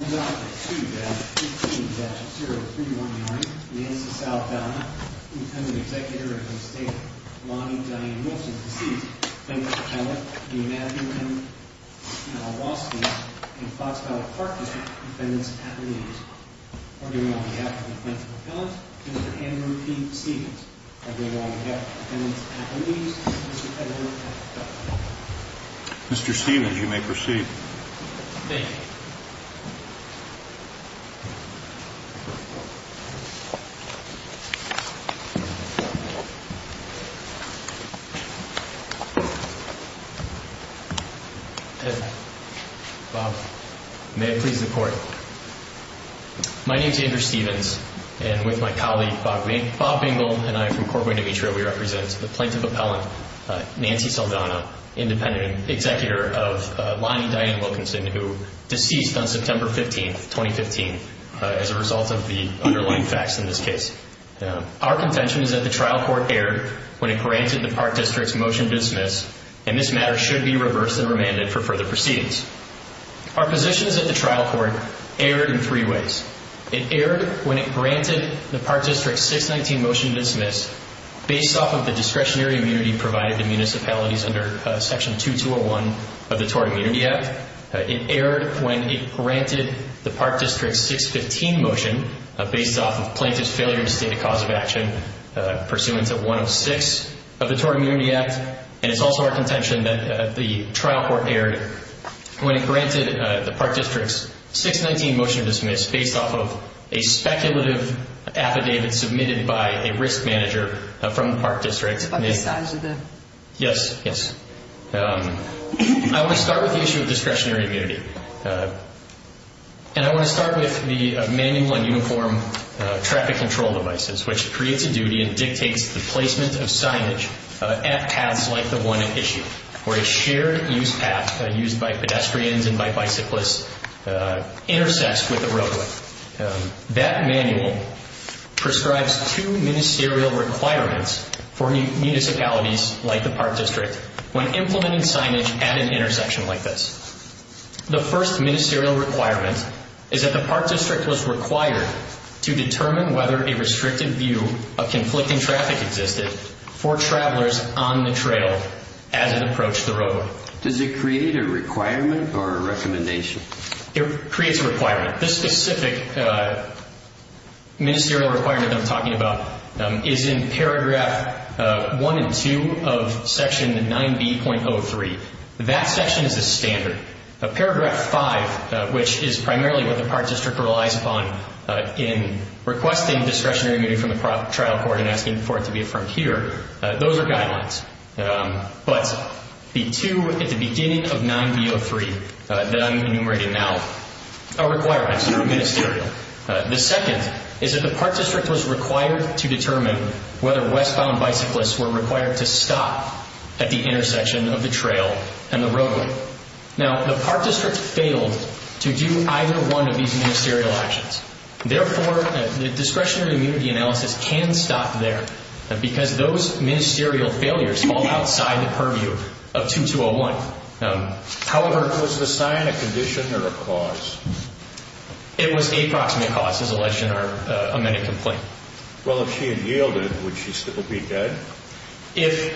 2-15-0319 Nancy Saldana, Intended Executor of the Estate of Lonnie Diane Wilson, deceased. Plaintiff's Appellant, Dean Andrew M. Malawski, and Fox Valley Park District Defendant's Affidavit. Arguing on behalf of the plaintiff's appellant, Mr. Andrew P. Stevens. Arguing on behalf of the defendant's affidavit, Mr. Edward F. Douglas. Mr. Stevens, you may proceed. Thank you. Bob, may I please report? My name is Andrew Stevens, and with my colleague, Bob Bingle, and I from Corporate Demetria, we represent the Plaintiff's Appellant, Nancy Saldana, Independent Executor of Lonnie Diane Wilkinson, who deceased on September 15, 2015, as a result of the underlying facts in this case. Our contention is that the trial court erred when it granted the Park District's Motion to Dismiss, and this matter should be reversed and remanded for further proceedings. Our position is that the trial court erred in three ways. It erred when it granted the Park District's 619 Motion to Dismiss based off of the discretionary immunity provided to municipalities under Section 2201 of the Tort Immunity Act. It erred when it granted the Park District's 615 Motion based off of Plaintiff's failure to state a cause of action pursuant to 106 of the Tort Immunity Act, and it's also our contention that the trial court erred when it granted the Park District's 619 Motion to Dismiss based off of a speculative affidavit submitted by a risk manager from the Park District. I want to start with the issue of discretionary immunity, and I want to start with the Manual on Uniform Traffic Control Devices, which creates a duty and dictates the placement of signage at paths like the one at issue, where a shared-use path used by pedestrians and by bicyclists intersects with a roadway. That manual prescribes two ministerial requirements for municipalities like the Park District when implementing signage at an intersection like this. The first ministerial requirement is that the Park District was required to determine whether a restricted view of conflicting traffic existed for travelers on the trail as it approached the road. Does it create a requirement or a recommendation? It creates a requirement. This specific ministerial requirement I'm talking about is in paragraph one and two of section 9B.03. That section is the standard. Paragraph five, which is primarily what the Park District relies upon in requesting discretionary immunity from the trial court and asking for it to be affirmed here, those are guidelines. But, the two at the beginning of 9B.03 that I'm enumerating now are requirements, ministerial. The second is that the Park District was required to determine whether westbound bicyclists were required to stop at the intersection of the trail and the roadway. Now, the Park District failed to do either one of these ministerial actions. Therefore, the discretionary immunity analysis can stop there because those ministerial failures fall outside the purview of 2201. However, was the sign a condition or a cause? It was a proximate cause, as alleged in our amended complaint. Well, if she had yielded, would she still be dead? If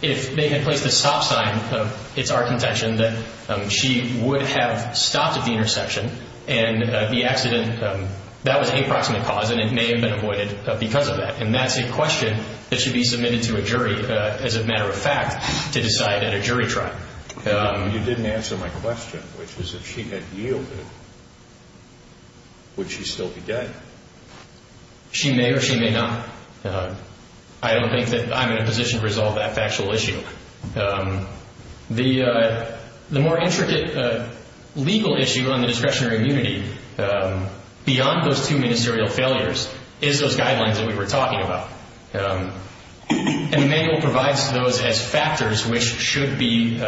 they had placed a stop sign, it's our contention that she would have stopped at the intersection and the accident, that was a proximate cause and it may have been avoided because of that. And that's a question that should be submitted to a jury, as a matter of fact, to decide at a jury trial. You didn't answer my question, which is if she had yielded, would she still be dead? She may or she may not. I don't think that I'm in a position to resolve that factual issue. The more intricate legal issue on the discretionary immunity, beyond those two ministerial failures, is those guidelines that we were talking about. And the manual provides those as factors which should be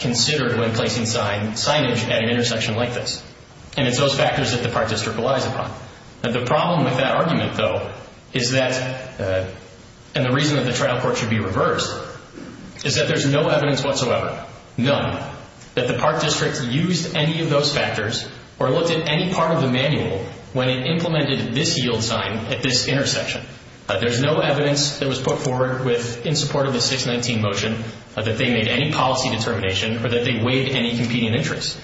considered when placing signage at an intersection like this. And it's those factors that the Park District relies upon. The problem with that argument, though, is that, and the reason that the trial court should be reversed, is that there's no evidence whatsoever, none, that the Park District used any of those factors or looked at any part of the manual when it implemented this yield sign at this intersection. There's no evidence that was put forward in support of the 619 motion that they made any policy determination or that they weighed any competing interests.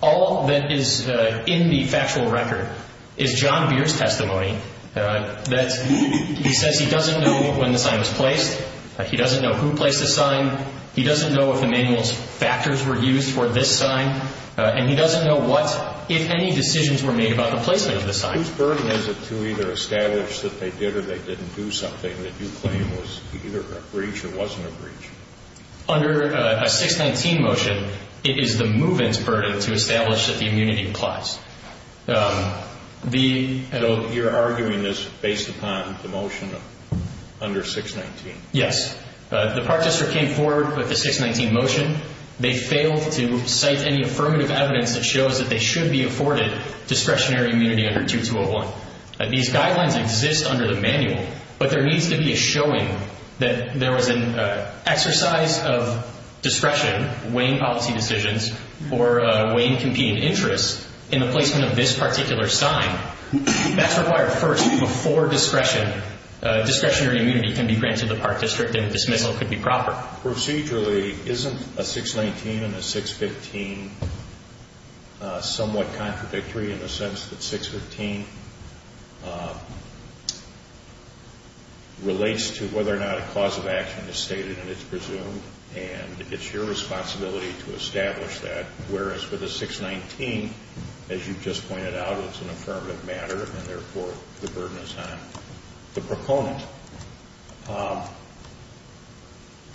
All that is in the factual record is John Beard's testimony that he says he doesn't know when the sign was placed, he doesn't know who placed the sign, he doesn't know if the manual's factors were used for this sign, and he doesn't know what, if any decisions were made about the placement of the sign. Whose burden is it to either establish that they did or they didn't do something that you claim was either a breach or wasn't a breach? Under a 619 motion, it is the move-in's burden to establish that the immunity applies. So you're arguing this based upon the motion under 619? Yes. The Park District came forward with the 619 motion. They failed to cite any affirmative evidence that shows that they should be afforded discretionary immunity under 2201. These guidelines exist under the manual, but there needs to be a showing that there was an exercise of discretion, weighing policy decisions or weighing competing interests in the placement of this particular sign. That's required first before discretion. Discretionary immunity can be granted to the Park District, and a dismissal could be proper. Procedurally, isn't a 619 and a 615 somewhat contradictory in the sense that 615 relates to whether or not a cause of action is stated and it's presumed, and it's your responsibility to establish that, As you just pointed out, it's an affirmative matter, and therefore the burden is on the proponent.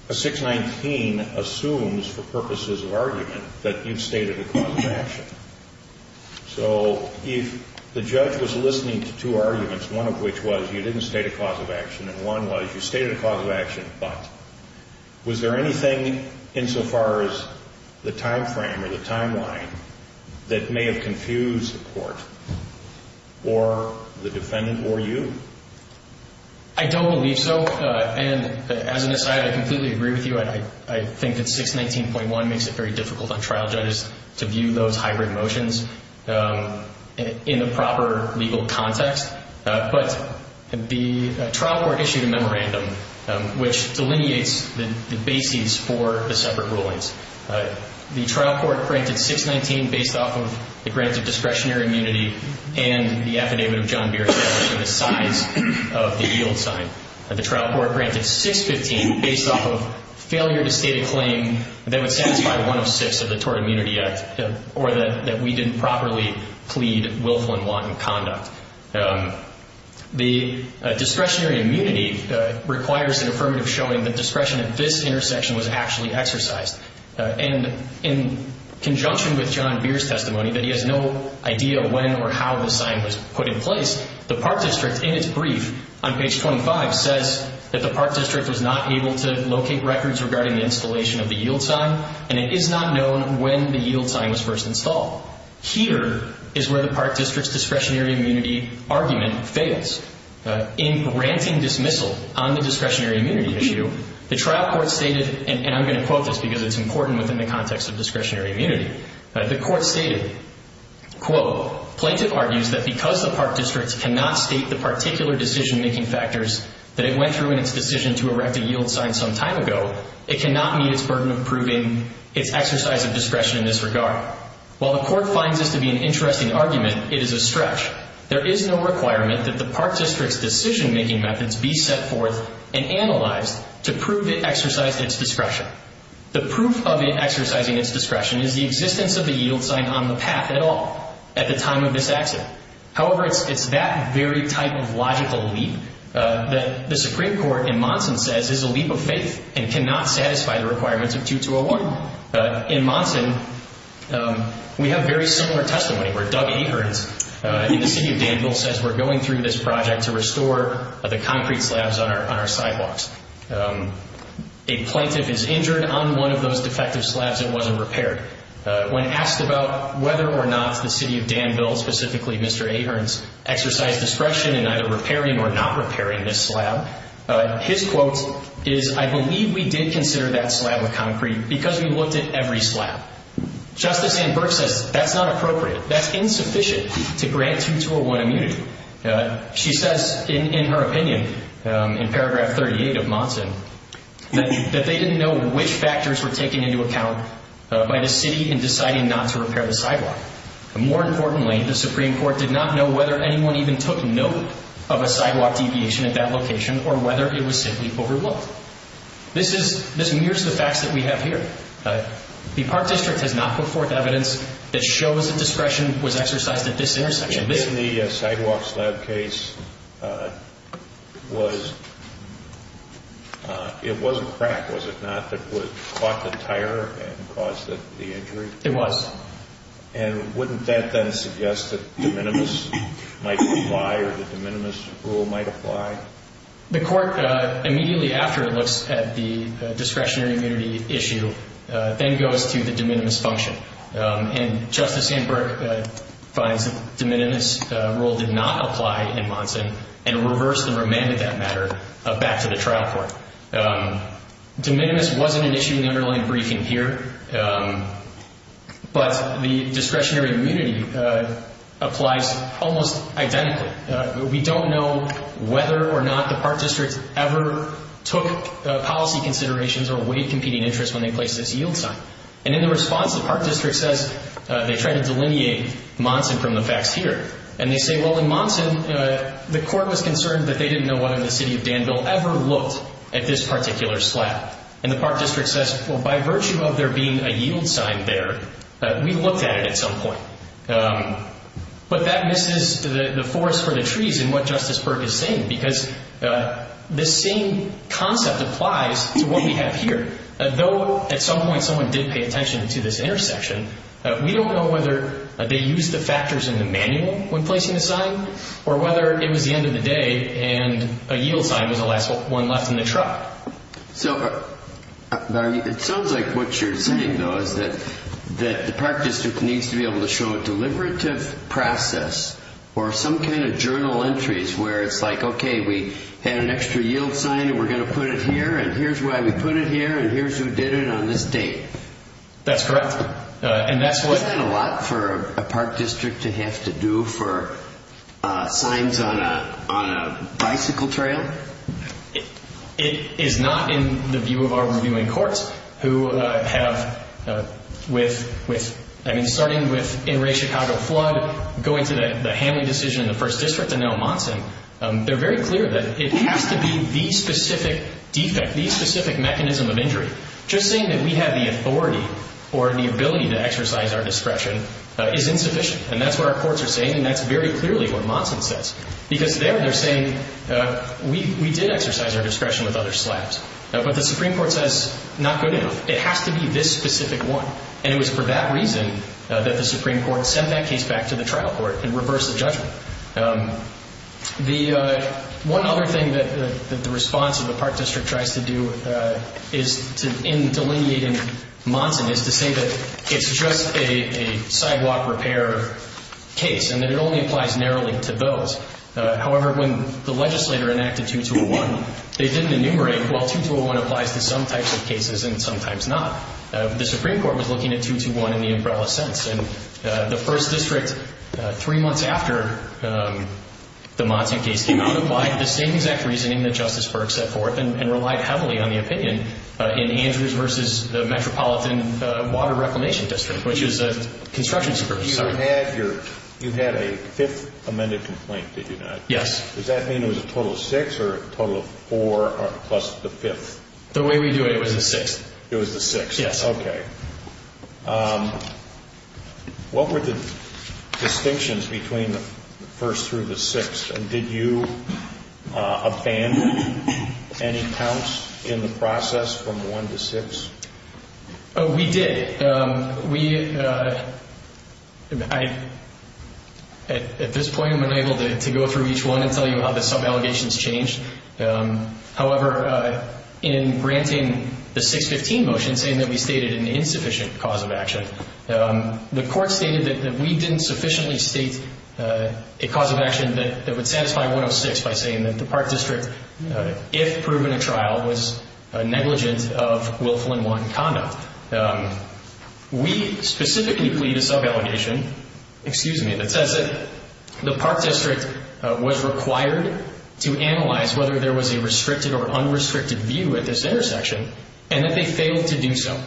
A 619 assumes, for purposes of argument, that you've stated a cause of action. So if the judge was listening to two arguments, one of which was you didn't state a cause of action, and one was you stated a cause of action, but was there anything insofar as the timeframe or the timeline that may have confused the court or the defendant or you? I don't believe so, and as an aside, I completely agree with you. I think that 619.1 makes it very difficult on trial judges to view those hybrid motions in the proper legal context, but the trial court issued a memorandum which delineates the bases for the separate rulings. The trial court granted 619 based off of the granted discretionary immunity and the affidavit of John Beardsdale for the size of the yield sign. The trial court granted 615 based off of failure to state a claim that would satisfy 106 of the Tort Immunity Act or that we didn't properly plead willful and wanton conduct. The discretionary immunity requires an affirmative showing that discretion at this intersection was actually exercised. And in conjunction with John Beard's testimony that he has no idea when or how the sign was put in place, the Park District in its brief on page 25 says that the Park District was not able to locate records regarding the installation of the yield sign, and it is not known when the yield sign was first installed. Here is where the Park District's discretionary immunity argument fails. In granting dismissal on the discretionary immunity issue, the trial court stated, and I'm going to quote this because it's important within the context of discretionary immunity. The court stated, quote, Plaintiff argues that because the Park District cannot state the particular decision-making factors that it went through in its decision to erect a yield sign some time ago, it cannot meet its burden of proving its exercise of discretion in this regard. While the court finds this to be an interesting argument, it is a stretch. There is no requirement that the Park District's decision-making methods be set forth and analyzed to prove it exercised its discretion. The proof of it exercising its discretion is the existence of the yield sign on the path at all at the time of this accident. However, it's that very type of logical leap that the Supreme Court in Monson says is a leap of faith and cannot satisfy the requirements of 2201. In Monson, we have very similar testimony where Doug Akerns in the city of Danville says we're going through this project to restore the concrete slabs on our sidewalks. A plaintiff is injured on one of those defective slabs that wasn't repaired. When asked about whether or not the city of Danville, specifically Mr. Akerns, exercised discretion in either repairing or not repairing this slab, his quote is, I believe we did consider that slab with concrete because we looked at every slab. Justice Ann Burke says that's not appropriate. That's insufficient to grant 2201 immunity. She says in her opinion in paragraph 38 of Monson that they didn't know which factors were taken into account by the city in deciding not to repair the sidewalk. More importantly, the Supreme Court did not know whether anyone even took note of a sidewalk deviation at that location or whether it was simply overlooked. This mirrors the facts that we have here. The Park District has not put forth evidence that shows that discretion was exercised at this intersection. In the sidewalk slab case, it was a crack, was it not, that caught the tire and caused the injury? It was. And wouldn't that then suggest that de minimis might apply or the de minimis rule might apply? The court, immediately after it looks at the discretionary immunity issue, then goes to the de minimis function. And Justice Ann Burke finds that the de minimis rule did not apply in Monson and reversed and remanded that matter back to the trial court. De minimis wasn't an issue in the underlying briefing here, but the discretionary immunity applies almost identically. We don't know whether or not the Park District ever took policy considerations or weighed competing interests when they placed this yield sign. And in the response, the Park District says they tried to delineate Monson from the facts here. And they say, well, in Monson, the court was concerned that they didn't know whether the city of Danville ever looked at this particular slab. And the Park District says, well, by virtue of there being a yield sign there, we looked at it at some point. But that misses the forest for the trees in what Justice Burke is saying, because this same concept applies to what we have here. Though at some point someone did pay attention to this intersection, we don't know whether they used the factors in the manual when placing the sign or whether it was the end of the day and a yield sign was the last one left in the truck. So it sounds like what you're saying, though, is that the Park District needs to be able to show a deliberative process or some kind of journal entries where it's like, okay, we had an extra yield sign and we're going to put it here, and here's why we put it here, and here's who did it on this date. That's correct. Isn't that a lot for a Park District to have to do for signs on a bicycle trail? It is not in the view of our reviewing courts, who have, with, I mean, starting with Inter-Ray Chicago flood, going to the Hanley decision in the First District, and now Monson, they're very clear that it has to be the specific defect, the specific mechanism of injury. Just saying that we have the authority or the ability to exercise our discretion is insufficient. And that's what our courts are saying, and that's very clearly what Monson says. Because there they're saying we did exercise our discretion with other slabs, but the Supreme Court says not good enough. It has to be this specific one. And it was for that reason that the Supreme Court sent that case back to the trial court and reversed the judgment. One other thing that the response of the Park District tries to do in delineating Monson is to say that it's just a sidewalk repair case and that it only applies narrowly to those. However, when the legislator enacted 2-2-1, they didn't enumerate, well, 2-2-1 applies to some types of cases and sometimes not. The Supreme Court was looking at 2-2-1 in the umbrella sense. And the First District, three months after the Monson case came out, applied the same exact reasoning that Justice Burke set forth and relied heavily on the opinion in Andrews v. Metropolitan Water Reclamation District, which is a construction supervisor. You had a fifth amended complaint, did you not? Yes. Does that mean it was a total of six or a total of four plus the fifth? The way we do it, it was the sixth. It was the sixth. Yes. Okay. What were the distinctions between the first through the sixth? And did you abandon any counts in the process from one to six? Oh, we did. We, at this point, I'm unable to go through each one and tell you how the sub-allegations changed. However, in granting the 615 motion, saying that we stated an insufficient cause of action, the Court stated that we didn't sufficiently state a cause of action that would satisfy 106 by saying that the Park District, if proven at trial, was negligent of Will Flynn 1 conduct. We specifically plead a sub-allegation, excuse me, that says that the Park District was required to analyze whether there was a restricted or unrestricted view at this intersection and that they failed to do so.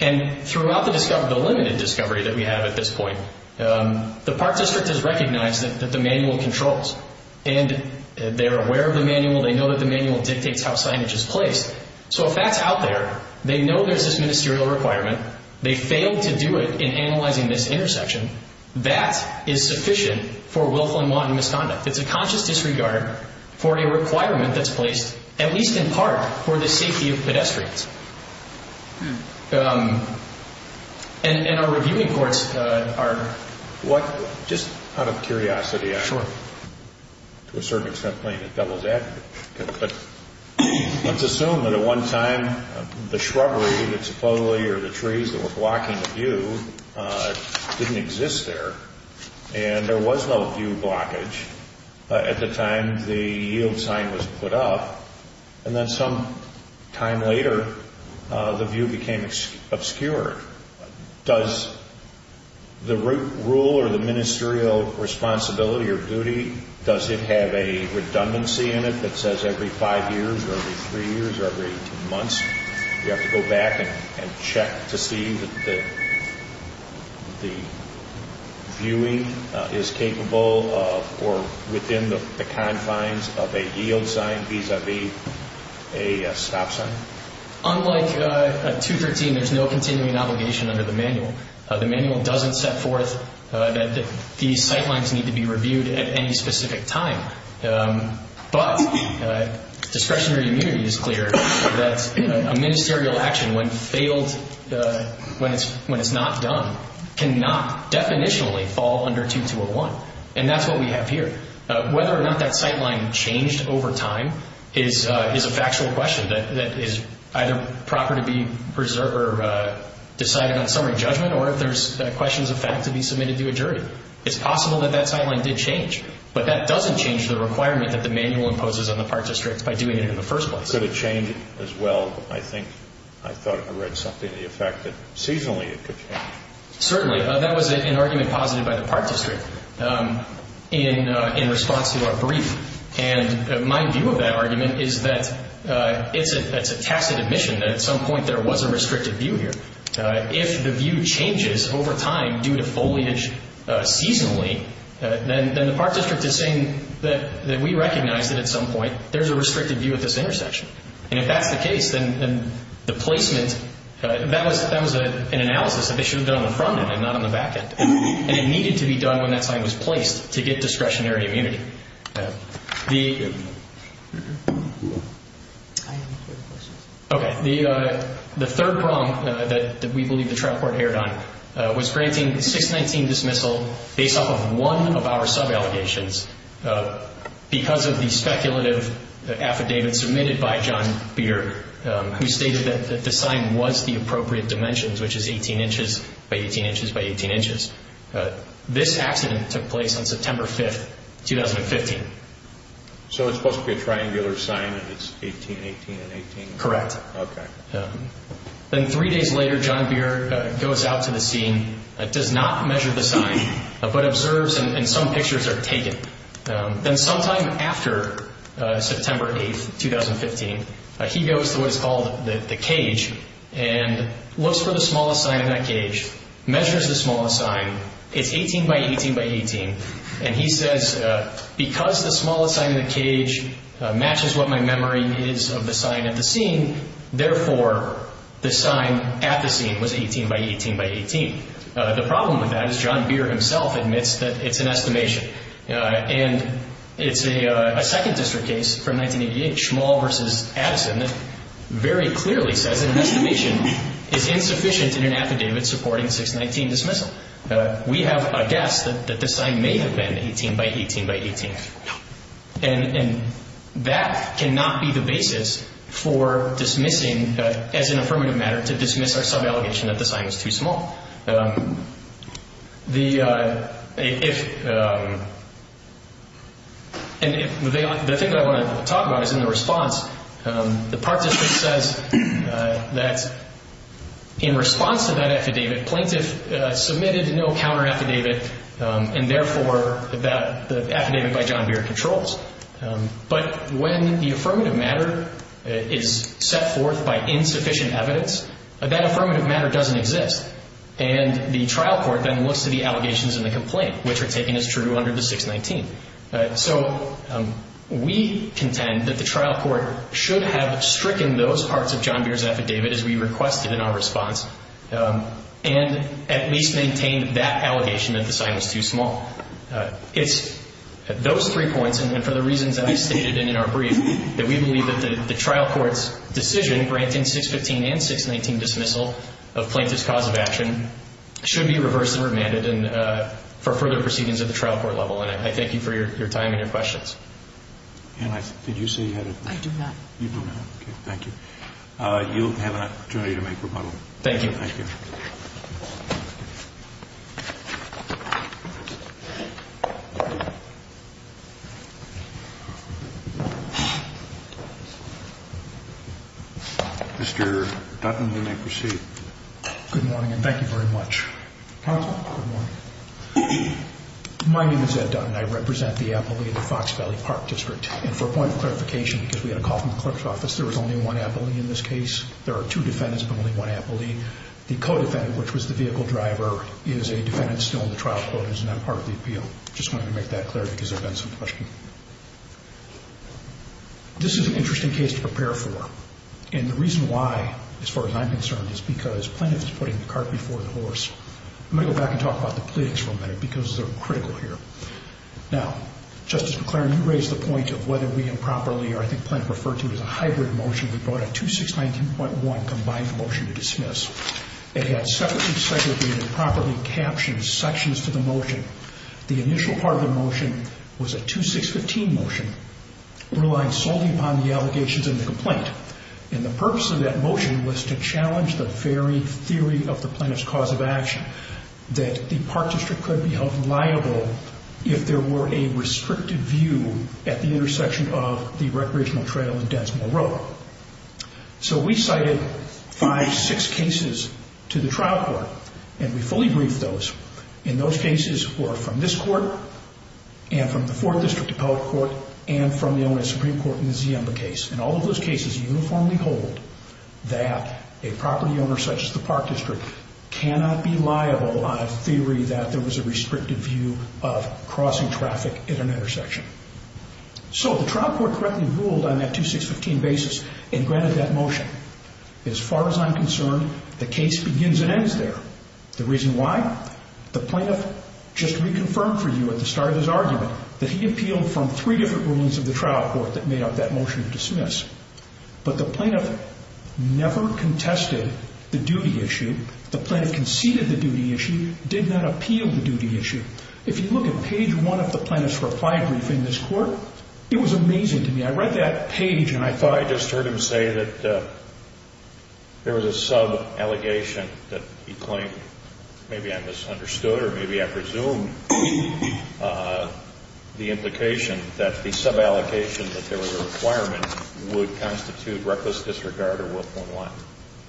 And throughout the limited discovery that we have at this point, the Park District has recognized that the manual controls. And they're aware of the manual. They know that the manual dictates how signage is placed. So if that's out there, they know there's this ministerial requirement, they failed to do it in analyzing this intersection, that is sufficient for Will Flynn 1 misconduct. It's a conscious disregard for a requirement that's placed, at least in part, for the safety of pedestrians. And our reviewing courts are... Just out of curiosity, to a certain extent, playing a devil's advocate, but let's assume that at one time the shrubbery, the tapoli, or the trees that were blocking the view didn't exist there. And there was no view blockage at the time the yield sign was put up. And then some time later, the view became obscured. Does the rule or the ministerial responsibility or duty, does it have a redundancy in it that says every five years or every three years or every 18 months you have to go back and check to see that the viewing is capable of or within the confines of a yield sign vis-à-vis a stop sign? Unlike 213, there's no continuing obligation under the manual. The manual doesn't set forth that these sight lines need to be reviewed at any specific time, but discretionary immunity is clear that a ministerial action, when failed, when it's not done, cannot definitionally fall under 2201. And that's what we have here. Whether or not that sight line changed over time is a factual question that is either proper to be decided on summary judgment It's possible that that sight line did change, but that doesn't change the requirement that the manual imposes on the Park District by doing it in the first place. Could it change as well? I think I thought I read something to the effect that seasonally it could change. Certainly. That was an argument posited by the Park District in response to our brief. And my view of that argument is that it's a tacit admission that at some point there was a restricted view here. If the view changes over time due to foliage seasonally, then the Park District is saying that we recognize that at some point there's a restricted view at this intersection. And if that's the case, then the placement, that was an analysis that they should have done on the front end and not on the back end. And it needed to be done when that sight was placed to get discretionary immunity. The third problem that we believe the trial court erred on was granting 619 dismissal based off of one of our sub-allegations because of the speculative affidavit submitted by John Beard, who stated that the sign was the appropriate dimensions, which is 18 inches by 18 inches by 18 inches. This accident took place on September 5th, 2015. So it's supposed to be a triangular sign and it's 18, 18, and 18? Correct. Okay. Then three days later, John Beard goes out to the scene, does not measure the sign, but observes and some pictures are taken. Then sometime after September 8th, 2015, he goes to what is called the cage and looks for the smallest sign in that cage, measures the smallest sign. It's 18 by 18 by 18. And he says, because the smallest sign in the cage matches what my memory is of the sign at the scene, therefore, the sign at the scene was 18 by 18 by 18. The problem with that is John Beard himself admits that it's an estimation. And it's a second district case from 1988, Schmall v. Addison, that very clearly says that an estimation is insufficient in an affidavit supporting 619 dismissal. We have a guess that the sign may have been 18 by 18 by 18. And that cannot be the basis for dismissing, as an affirmative matter, to dismiss our sub-allegation that the sign was too small. And the thing that I want to talk about is in the response, the participant says that in response to that affidavit, plaintiff submitted no counter-affidavit, and therefore the affidavit by John Beard controls. But when the affirmative matter is set forth by insufficient evidence, that affirmative matter doesn't exist. And the trial court then looks to the allegations in the complaint, which are taken as true under the 619. So we contend that the trial court should have stricken those parts of John Beard's affidavit as we requested in our response and at least maintained that allegation that the sign was too small. It's those three points, and for the reasons that I stated in our brief, that we believe that the trial court's decision granting 615 and 619 dismissal of plaintiff's cause of action should be reversed and remanded for further proceedings at the trial court level. And I thank you for your time and your questions. Anne, did you say you had a question? I do not. You do not. Okay, thank you. You'll have an opportunity to make rebuttal. Thank you. Thank you. Mr. Dutton, you may proceed. Good morning, and thank you very much. My name is Ed Dutton. I represent the appellee of the Fox Valley Park District. And for a point of clarification, because we had a call from the clerk's office, there was only one appellee in this case. There are two defendants, but only one appellee. The co-defendant, which was the vehicle driver, is a defendant still in the trial court and is not part of the appeal. I just wanted to make that clear because there have been some questions. This is an interesting case to prepare for. And the reason why, as far as I'm concerned, is because plaintiff is putting the cart before the horse. I'm going to go back and talk about the pleadings for a minute because they're critical here. Now, Justice McClaren, you raised the point of whether we improperly, or I think plaintiff referred to as a hybrid motion, we brought a 2619.1 combined motion to dismiss. It had separately segregated, improperly captioned sections to the motion. The initial part of the motion was a 2615 motion relying solely upon the allegations in the complaint. And the purpose of that motion was to challenge the very theory of the plaintiff's cause of action, that the park district could be held liable if there were a restricted view at the intersection of the recreational trail and Densmore Road. So we cited five, six cases to the trial court, and we fully briefed those. And those cases were from this court and from the 4th District Appellate Court and from the owner of the Supreme Court in the Ziemba case. And all of those cases uniformly hold that a property owner such as the park district cannot be liable on a theory that there was a restricted view of crossing traffic at an intersection. So the trial court correctly ruled on that 2615 basis and granted that motion. As far as I'm concerned, the case begins and ends there. The reason why? The plaintiff just reconfirmed for you at the start of his argument that he appealed from three different rulings of the trial court that made up that motion to dismiss. But the plaintiff never contested the duty issue. The plaintiff conceded the duty issue, did not appeal the duty issue. If you look at page one of the plaintiff's reply briefing in this court, it was amazing to me. I read that page, and I thought I just heard him say that there was a sub-allegation that he claimed maybe I misunderstood or maybe I presumed the implication that the sub-allegation that there was a requirement would constitute reckless disregard or Will.1.1.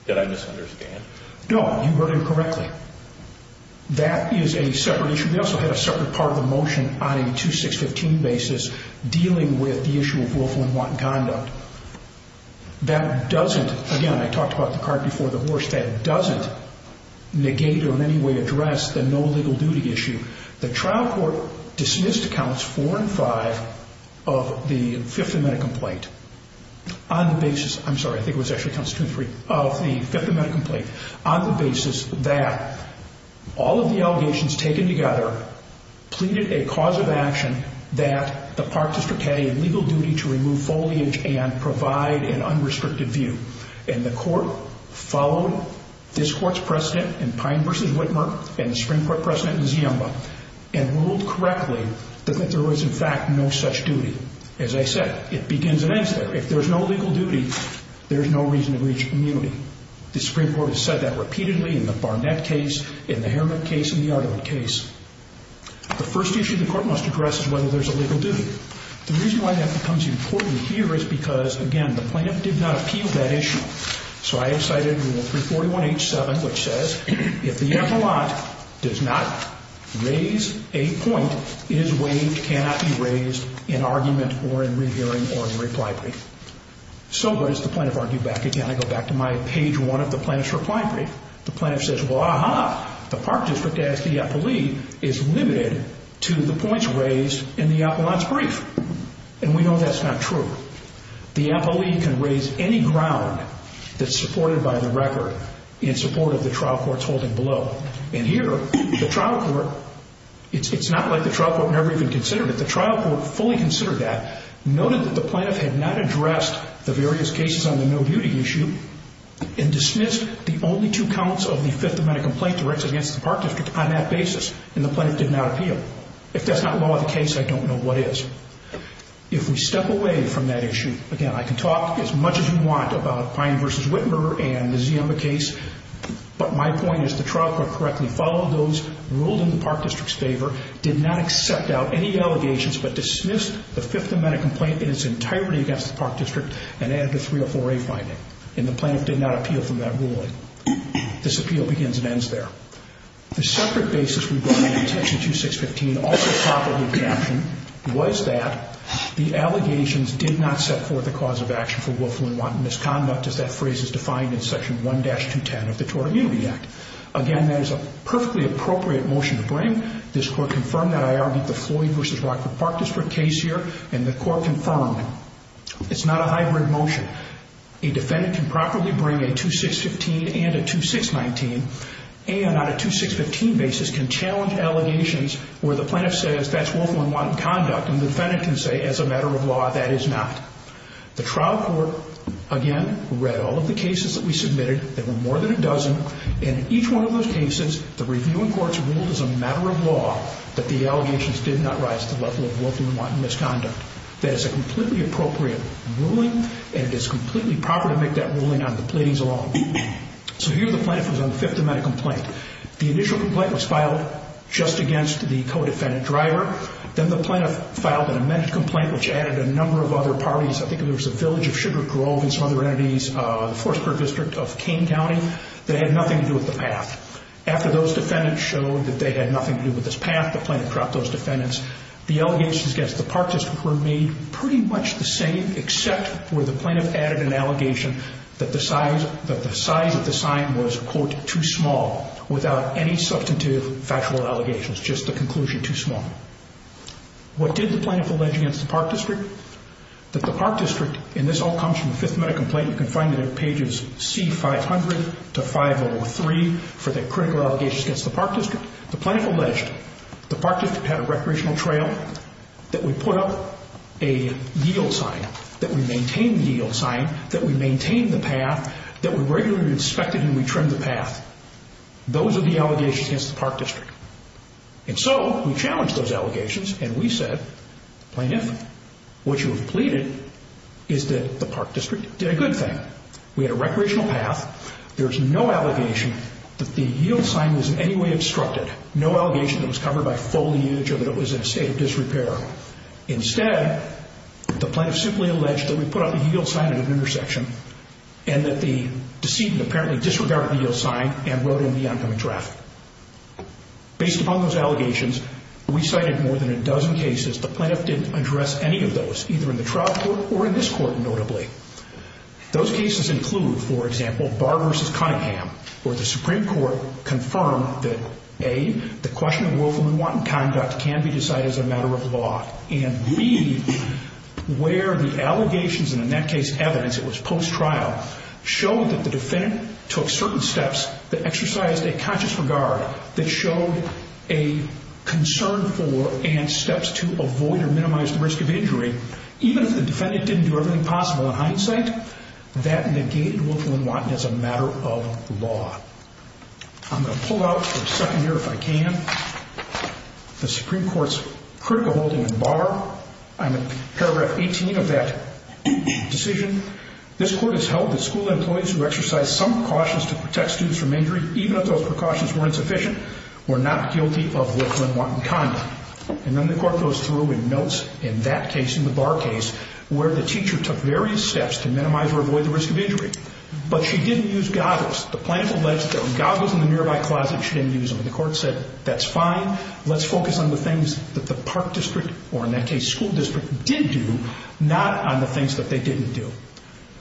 Did I misunderstand? No, you heard him correctly. That is a separate issue. We also had a separate part of the motion on a 2615 basis dealing with the issue of willful and want conduct. That doesn't, again, I talked about the cart before the horse, that doesn't negate or in any way address the no legal duty issue. The trial court dismissed counts four and five of the Fifth Amendment complaint on the basis, I'm sorry, I think it was actually counts two and three, of the Fifth Amendment complaint on the basis that all of the allegations taken together pleaded a cause of action that the Park District had a legal duty to remove foliage and provide an unrestricted view. And the court followed this court's precedent in Pine v. Whitmer and the Supreme Court precedent in Ziemba and ruled correctly that there was, in fact, no such duty. As I said, it begins and ends there. If there's no legal duty, there's no reason to reach immunity. The Supreme Court has said that repeatedly in the Barnett case, in the Harriman case, in the Ardor case. The first issue the court must address is whether there's a legal duty. The reason why that becomes important here is because, again, the plaintiff did not appeal that issue. So I have cited Rule 341H7, which says, if the appellant does not raise a point, his weight cannot be raised in argument or in rehearing or in reply brief. So what does the plaintiff argue back? Again, I go back to my page one of the plaintiff's reply brief. The plaintiff says, well, aha, the Park District, as the appellee, is limited to the points raised in the appellant's brief. And we know that's not true. The appellee can raise any ground that's supported by the record in support of the trial court's holding below. And here, the trial court, it's not like the trial court never even considered it. The trial court fully considered that, noted that the plaintiff had not addressed the various cases on the no-duty issue, and dismissed the only two counts of the Fifth Amendment complaint directed against the Park District on that basis, and the plaintiff did not appeal. If that's not law of the case, I don't know what is. If we step away from that issue, again, I can talk as much as you want about Pine v. Whitmer and the Ziemba case, but my point is the trial court correctly followed those, ruled in the Park District's favor, did not accept out any allegations, but dismissed the Fifth Amendment complaint in its entirety against the Park District, and added the 304A finding. And the plaintiff did not appeal from that ruling. This appeal begins and ends there. The separate basis regarding Section 2615, also properly captioned, was that the allegations did not set forth a cause of action for willful and wanton misconduct, as that phrase is defined in Section 1-210 of the Tort Immunity Act. Again, that is a perfectly appropriate motion to bring. This Court confirmed that. I argued the Floyd v. Rockford Park District case here, and the Court confirmed it. It's not a hybrid motion. A defendant can properly bring a 2615 and a 2619, and on a 2615 basis can challenge allegations where the plaintiff says that's willful and wanton conduct, and the defendant can say, as a matter of law, that is not. The trial court, again, read all of the cases that we submitted. There were more than a dozen, and in each one of those cases, the review and courts ruled as a matter of law that the allegations did not rise to the level of willful and wanton misconduct. That is a completely appropriate ruling, and it is completely proper to make that ruling on the pleadings alone. So here the plaintiff was on the Fifth Amendment complaint. The initial complaint was filed just against the co-defendant driver. Then the plaintiff filed an amended complaint which added a number of other parties. I think it was the Village of Sugar Grove and some other entities, the Forest Park District of Kane County. They had nothing to do with the path. After those defendants showed that they had nothing to do with this path, the plaintiff dropped those defendants. The allegations against the Park District were made pretty much the same except where the plaintiff added an allegation that the size of the sign was, quote, too small without any substantive factual allegations, just the conclusion too small. What did the plaintiff allege against the Park District? That the Park District, and this all comes from the Fifth Amendment complaint, you can find it in pages C-500 to 503 for the critical allegations against the Park District. The plaintiff alleged the Park District had a recreational trail that would put up a yield sign, that would maintain the yield sign, that would maintain the path, that would regularly be inspected when we trimmed the path. Those are the allegations against the Park District. And so we challenged those allegations and we said, Plaintiff, what you have pleaded is that the Park District did a good thing. We had a recreational path. There's no allegation that the yield sign was in any way obstructed. No allegation that it was covered by foliage or that it was in a state of disrepair. Instead, the plaintiff simply alleged that we put up a yield sign at an intersection and that the decedent apparently disregarded the yield sign and rode in the oncoming traffic. Based upon those allegations, we cited more than a dozen cases. The plaintiff didn't address any of those, either in the trial court or in this court, notably. Those cases include, for example, Barr v. Cunningham, where the Supreme Court confirmed that, A, the question of willful and wanton conduct can be decided as a matter of law, and B, where the allegations, and in that case evidence, it was post-trial, showed that the defendant took certain steps that exercised a conscious regard, that showed a concern for and steps to avoid or minimize the risk of injury, even if the defendant didn't do everything possible in hindsight, that negated willful and wanton as a matter of law. I'm going to pull out for a second here, if I can, the Supreme Court's critical holding in Barr. I'm at paragraph 18 of that decision. This court has held that school employees who exercised some precautions to protect students from injury, even if those precautions were insufficient, were not guilty of willful and wanton conduct. And then the court goes through and notes, in that case, in the Barr case, where the teacher took various steps to minimize or avoid the risk of injury. But she didn't use goggles. The plaintiff alleged that the goggles in the nearby closet, she didn't use them. And the court said, that's fine. Let's focus on the things that the park district, or in that case, school district, did do, not on the things that they didn't do.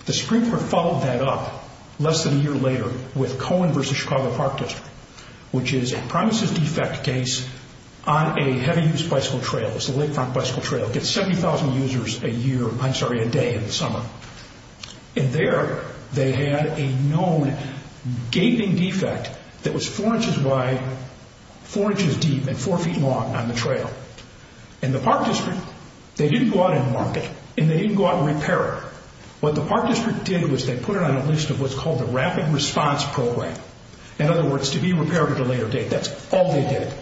The Supreme Court followed that up less than a year later with Cohen v. Chicago Park District, which is a premises defect case on a heavy-use bicycle trail. It's the Lakefront Bicycle Trail. It gets 70,000 users a year, I'm sorry, a day in the summer. And there, they had a known gaping defect that was four inches wide, four inches deep, and four feet long on the trail. And the park district, they didn't go out and mark it, and they didn't go out and repair it. What the park district did was, they put it on a list of what's called the Rapid Response Program. In other words, to be repaired at a later date. That's all they did.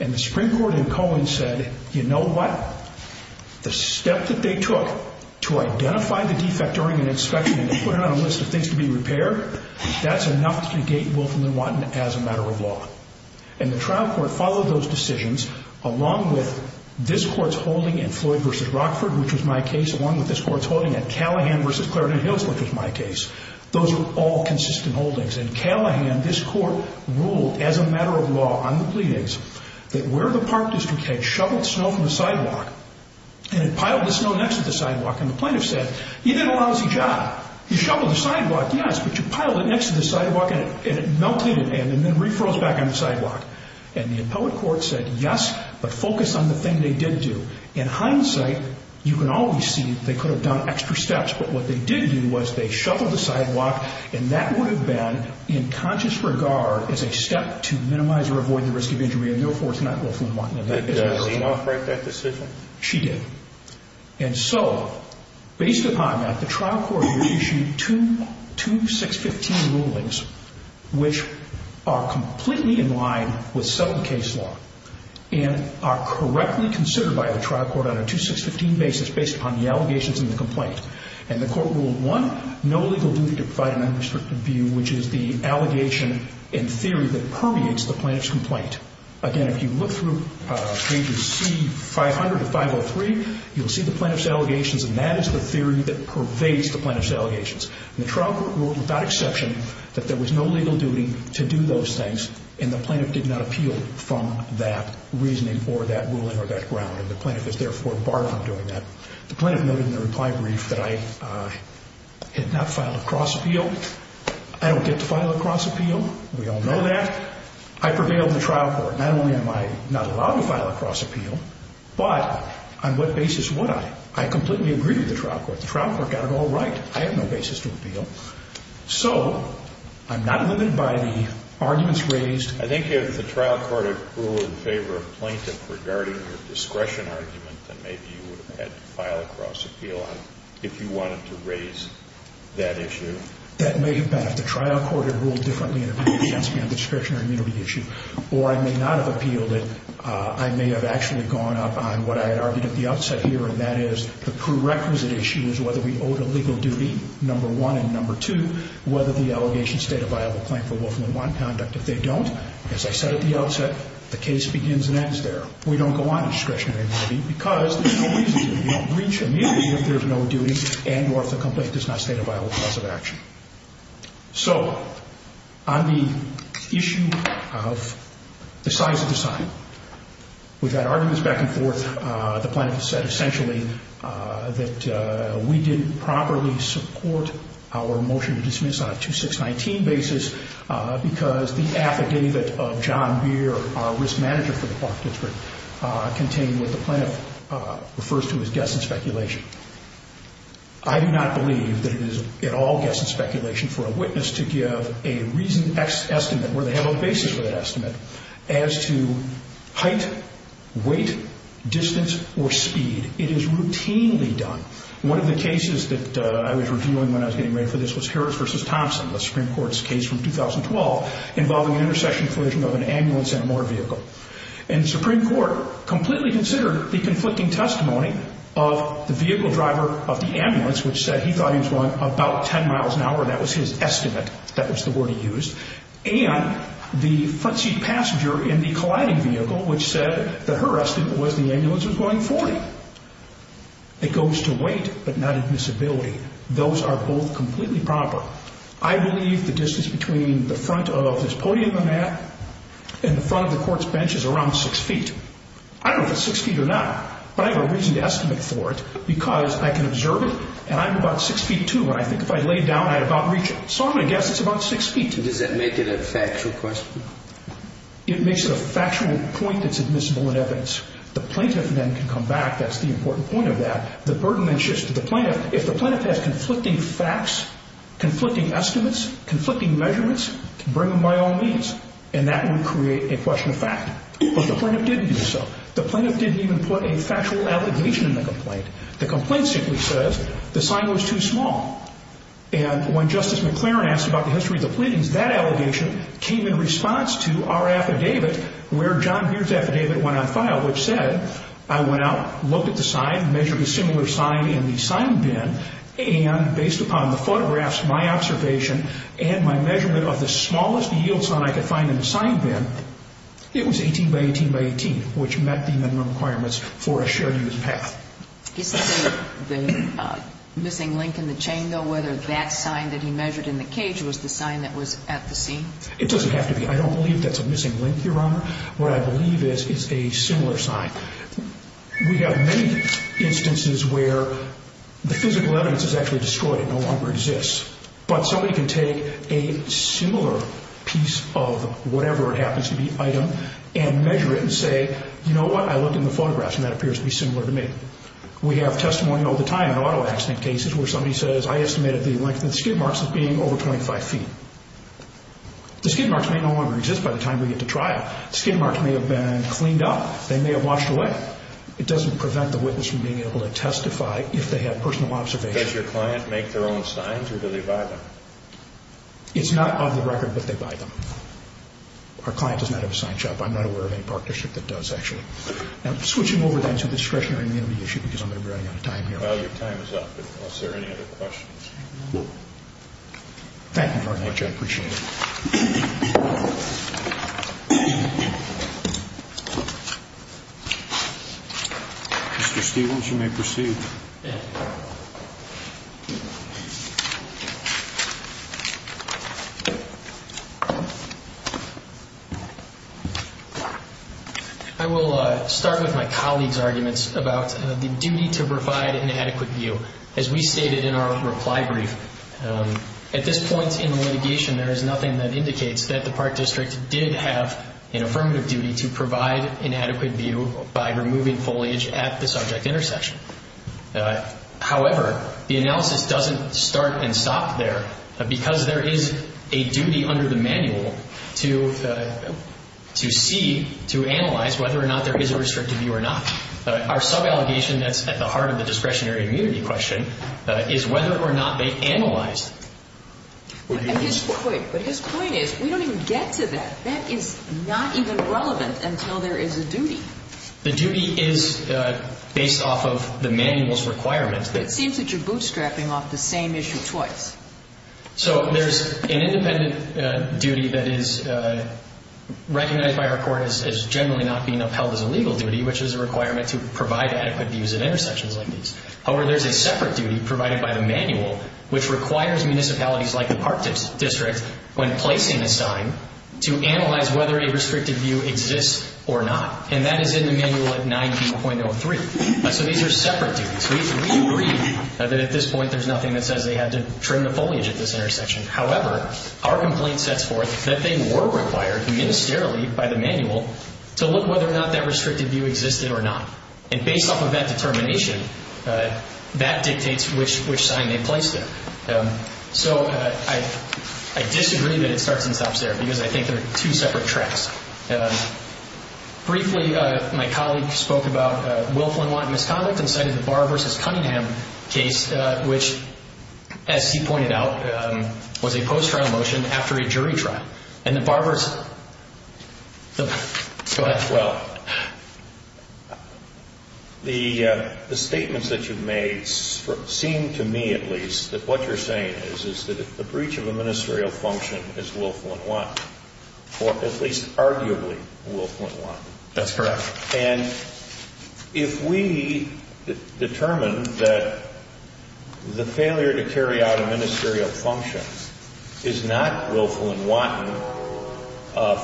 And the Supreme Court and Cohen said, you know what? The step that they took to identify the defect during an inspection, and they put it on a list of things to be repaired, that's enough to negate Wolf and Lewontin as a matter of law. And the trial court followed those decisions along with this court's holding in Floyd v. Rockford, which was my case, along with this court's holding in Callahan v. Clarendon Hills, which was my case. Those were all consistent holdings. In Callahan, this court ruled, as a matter of law on the pleadings, that where the park district had shoveled snow from the sidewalk, and it piled the snow next to the sidewalk, and the plaintiff said, you did a lousy job. You shoveled the sidewalk, yes, but you piled it next to the sidewalk, and it melted in the sand and then refroze back on the sidewalk. And the appellate court said, yes, but focus on the thing they did do. In hindsight, you can always see that they could have done extra steps, but what they did do was they shoveled the sidewalk, and that would have been, in conscious regard, as a step to minimize or avoid the risk of injury, and therefore, it's not Wolf and Lewontin. That does not break that decision. She did. And so, based upon that, the trial court issued two 615 rulings, which are completely in line with settlement case law and are correctly considered by the trial court on a 2615 basis based upon the allegations in the complaint. And the court ruled, one, no legal duty to provide an unrestricted view, which is the allegation in theory that pervades the plaintiff's complaint. Again, if you look through pages C500 to 503, you'll see the plaintiff's allegations, and that is the theory that pervades the plaintiff's allegations. And the trial court ruled, without exception, that there was no legal duty to do those things, and the plaintiff did not appeal from that reasoning or that ruling or that ground, and the plaintiff is therefore barred from doing that. The plaintiff noted in the reply brief that I had not filed a cross-appeal. I don't get to file a cross-appeal. We all know that. I prevailed in the trial court. Not only am I not allowed to file a cross-appeal, but on what basis would I? I completely agreed with the trial court. The trial court got it all right. I have no basis to appeal. So, I'm not limited by the arguments raised. I think if the trial court had ruled in favor of a plaintiff regarding your discretion argument, then maybe you would have had to file a cross-appeal if you wanted to raise that issue. That may have been if the trial court had ruled differently in opinion against me on the discretionary immunity issue. Or I may not have appealed it. I may have actually gone up on what I had argued at the outset here, and that is the prerequisite issue is whether we owed a legal duty, number one, and number two, whether the allegation stated a viable claim for Wolfman one conduct. If they don't, as I said at the outset, the case begins and ends there. We don't go on to discretionary immunity because there's no reason to. We don't reach immediately if there's no duty and or if the complaint does not state a viable cause of action. So, on the issue of the size of the sign, we've had arguments back and forth. The plaintiff said essentially that we didn't properly support our motion to dismiss on a 2619 basis because the affidavit of John Beer, our risk manager for the Park District, contained what the plaintiff refers to as guess and speculation. I do not believe that it is at all guess and speculation for a witness to give a reasoned estimate where they have a basis for that estimate as to height, weight, distance, or speed. It is routinely done. One of the cases that I was reviewing when I was getting ready for this was Harris v. Thompson, the Supreme Court's case from 2012, involving an intersection collision of an ambulance and a motor vehicle. And the Supreme Court completely considered the conflicting testimony of the vehicle driver of the ambulance, which said he thought he was going about 10 miles an hour. That was his estimate. That was the word he used. And the front seat passenger in the colliding vehicle, which said that her estimate was the ambulance was going 40. It goes to weight, but not admissibility. Those are both completely proper. I believe the distance between the front of this podium and that and the front of the court's bench is around 6 feet. I don't know if it's 6 feet or not, but I have a reasoned estimate for it because I can observe it, and I'm about 6 feet 2, and I think if I lay it down, I'd about reach it. So I'm going to guess it's about 6 feet. Does that make it a factual question? It makes it a factual point that's admissible in evidence. The plaintiff then can come back. That's the important point of that. The burden then shifts to the plaintiff. If the plaintiff has conflicting facts, conflicting estimates, conflicting measurements, bring them by all means, and that would create a question of fact. But the plaintiff didn't do so. The plaintiff didn't even put a factual allegation in the complaint. The complaint simply says the sign was too small. And when Justice McLaren asked about the history of the pleadings, that allegation came in response to our affidavit where John Beer's affidavit went on file, which said I went out, looked at the sign, measured a similar sign in the sign bin, and based upon the photographs, my observation, and my measurement of the smallest yield sign I could find in the sign bin, it was 18 by 18 by 18, which met the minimum requirements for a shared use path. Is the missing link in the chain, though, whether that sign that he measured in the cage was the sign that was at the scene? It doesn't have to be. I don't believe that's a missing link, Your Honor. What I believe is it's a similar sign. We have many instances where the physical evidence is actually destroyed. It no longer exists. But somebody can take a similar piece of whatever it happens to be item and measure it and say, you know what? I looked in the photographs and that appears to be similar to me. We have testimony all the time in auto accident cases where somebody says I estimated the length of the skid marks as being over 25 feet. The skid marks may no longer exist by the time we get to trial. The skid marks may have been cleaned up. They may have washed away. It doesn't prevent the witness from being able to testify if they have personal observation. Does your client make their own signs or do they buy them? It's not on the record, but they buy them. Our client does not have a sign shop. I'm not aware of any partnership that does actually. I'm switching over then to discretionary immunity issue because I'm going to be running out of time here. Well, your time is up unless there are any other questions. Thank you very much. I appreciate it. Mr. Stevens, you may proceed. Thank you. I will start with my colleague's arguments about the duty to provide an adequate view. As we stated in our reply brief, at this point in litigation, there is nothing that indicates that the Park District did have an affirmative duty to provide an adequate view by removing foliage at the subject intersection. However, the analysis doesn't start and stop there because there is a duty under the manual to see, to analyze whether or not there is a restricted view or not. Our sub-allegation that's at the heart of the discretionary immunity question is whether or not they analyzed. But his point is we don't even get to that. That is not even relevant until there is a duty. The duty is based off of the manual's requirements. It seems that you're bootstrapping off the same issue twice. So there's an independent duty that is recognized by our court as generally not being upheld as a legal duty, which is a requirement to provide adequate views at intersections like these. However, there's a separate duty provided by the manual, which requires municipalities like the Park District, when placing a sign, to analyze whether a restricted view exists or not. And that is in the manual at 9B.03. So these are separate duties. We agree that at this point there's nothing that says they had to trim the foliage at this intersection. However, our complaint sets forth that they were required ministerially by the manual to look whether or not that restricted view existed or not. And based off of that determination, that dictates which sign they placed there. So I disagree that it starts and stops there, because I think they're two separate tracks. Briefly, my colleague spoke about Wilflin-Watt misconduct and cited the Barr v. Cunningham case, which, as he pointed out, was a post-trial motion after a jury trial. And the Barr v. Go ahead. Well, the statements that you've made seem to me, at least, that what you're saying is that the breach of a ministerial function is Wilflin-Watt, or at least arguably Wilflin-Watt. That's correct. And if we determine that the failure to carry out a ministerial function is not Wilflin-Watt,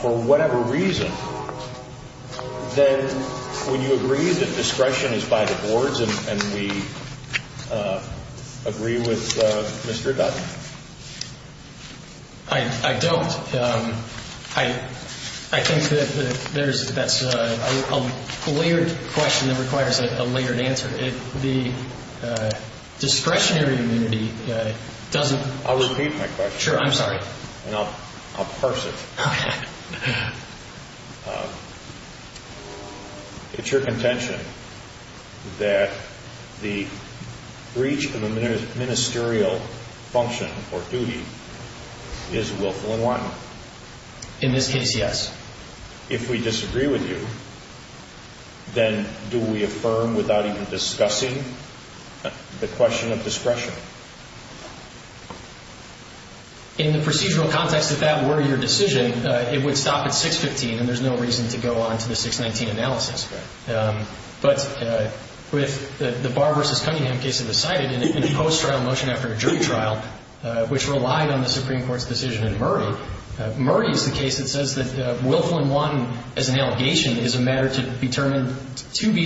for whatever reason, then would you agree that discretion is by the boards, and we agree with Mr. Dutton? I don't. I think that that's a layered question that requires a layered answer. The discretionary immunity doesn't I'll repeat my question. Sure, I'm sorry. And I'll parse it. It's your contention that the breach of a ministerial function or duty is Wilflin-Watt? In this case, yes. If we disagree with you, then do we affirm without even discussing the question of discretion? In the procedural context, if that were your decision, it would stop at 615, and there's no reason to go on to the 619 analysis. But with the Barr v. Cunningham case of the cited and the post-trial motion after a jury trial, which relied on the Supreme Court's decision in Murray, Murray is the case that says that Wilflin-Watt as an allegation is a matter to be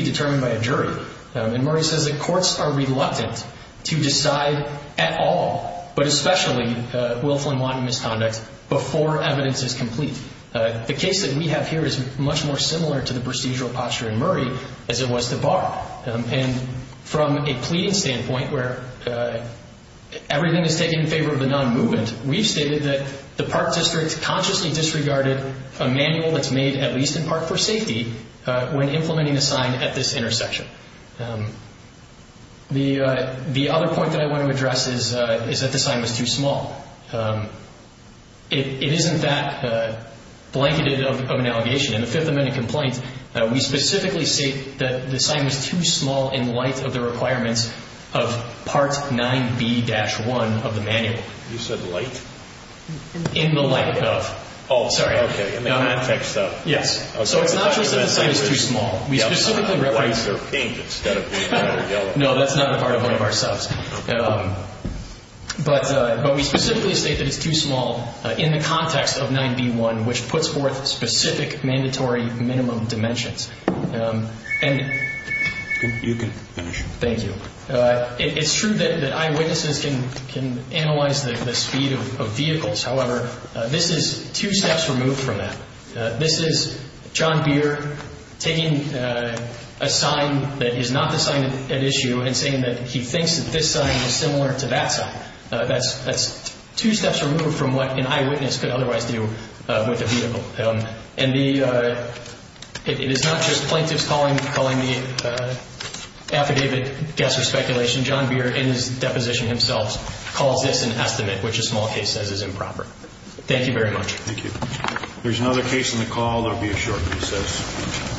determined by a jury. And Murray says that courts are reluctant to decide at all, but especially Wilflin-Watt misconduct, before evidence is complete. The case that we have here is much more similar to the procedural posture in Murray as it was to Barr. And from a pleading standpoint where everything is taken in favor of the non-movement, we've stated that the park district consciously disregarded a manual that's made at least in part for safety when implementing a sign at this intersection. The other point that I want to address is that the sign was too small. It isn't that blanketed of an allegation. In the Fifth Amendment complaint, we specifically state that the sign was too small in light of the requirements of Part 9B-1 of the manual. You said light? In the light of. Oh. Sorry. Okay. In the context of. Yes. So it's not just that the sign is too small. White or pink instead of blue or yellow. No, that's not a part of one of our subs. But we specifically state that it's too small in the context of 9B-1, which puts forth specific mandatory minimum dimensions. You can finish. Thank you. It's true that eyewitnesses can analyze the speed of vehicles. However, this is two steps removed from that. This is John Beer taking a sign that is not the sign at issue and saying that he thinks that this sign is similar to that sign. That's two steps removed from what an eyewitness could otherwise do with a vehicle. And it is not just plaintiffs calling the affidavit guess or speculation. John Beer, in his deposition himself, calls this an estimate, which a small case says is improper. Thank you very much. Thank you. If there's another case on the call, there will be a short recess.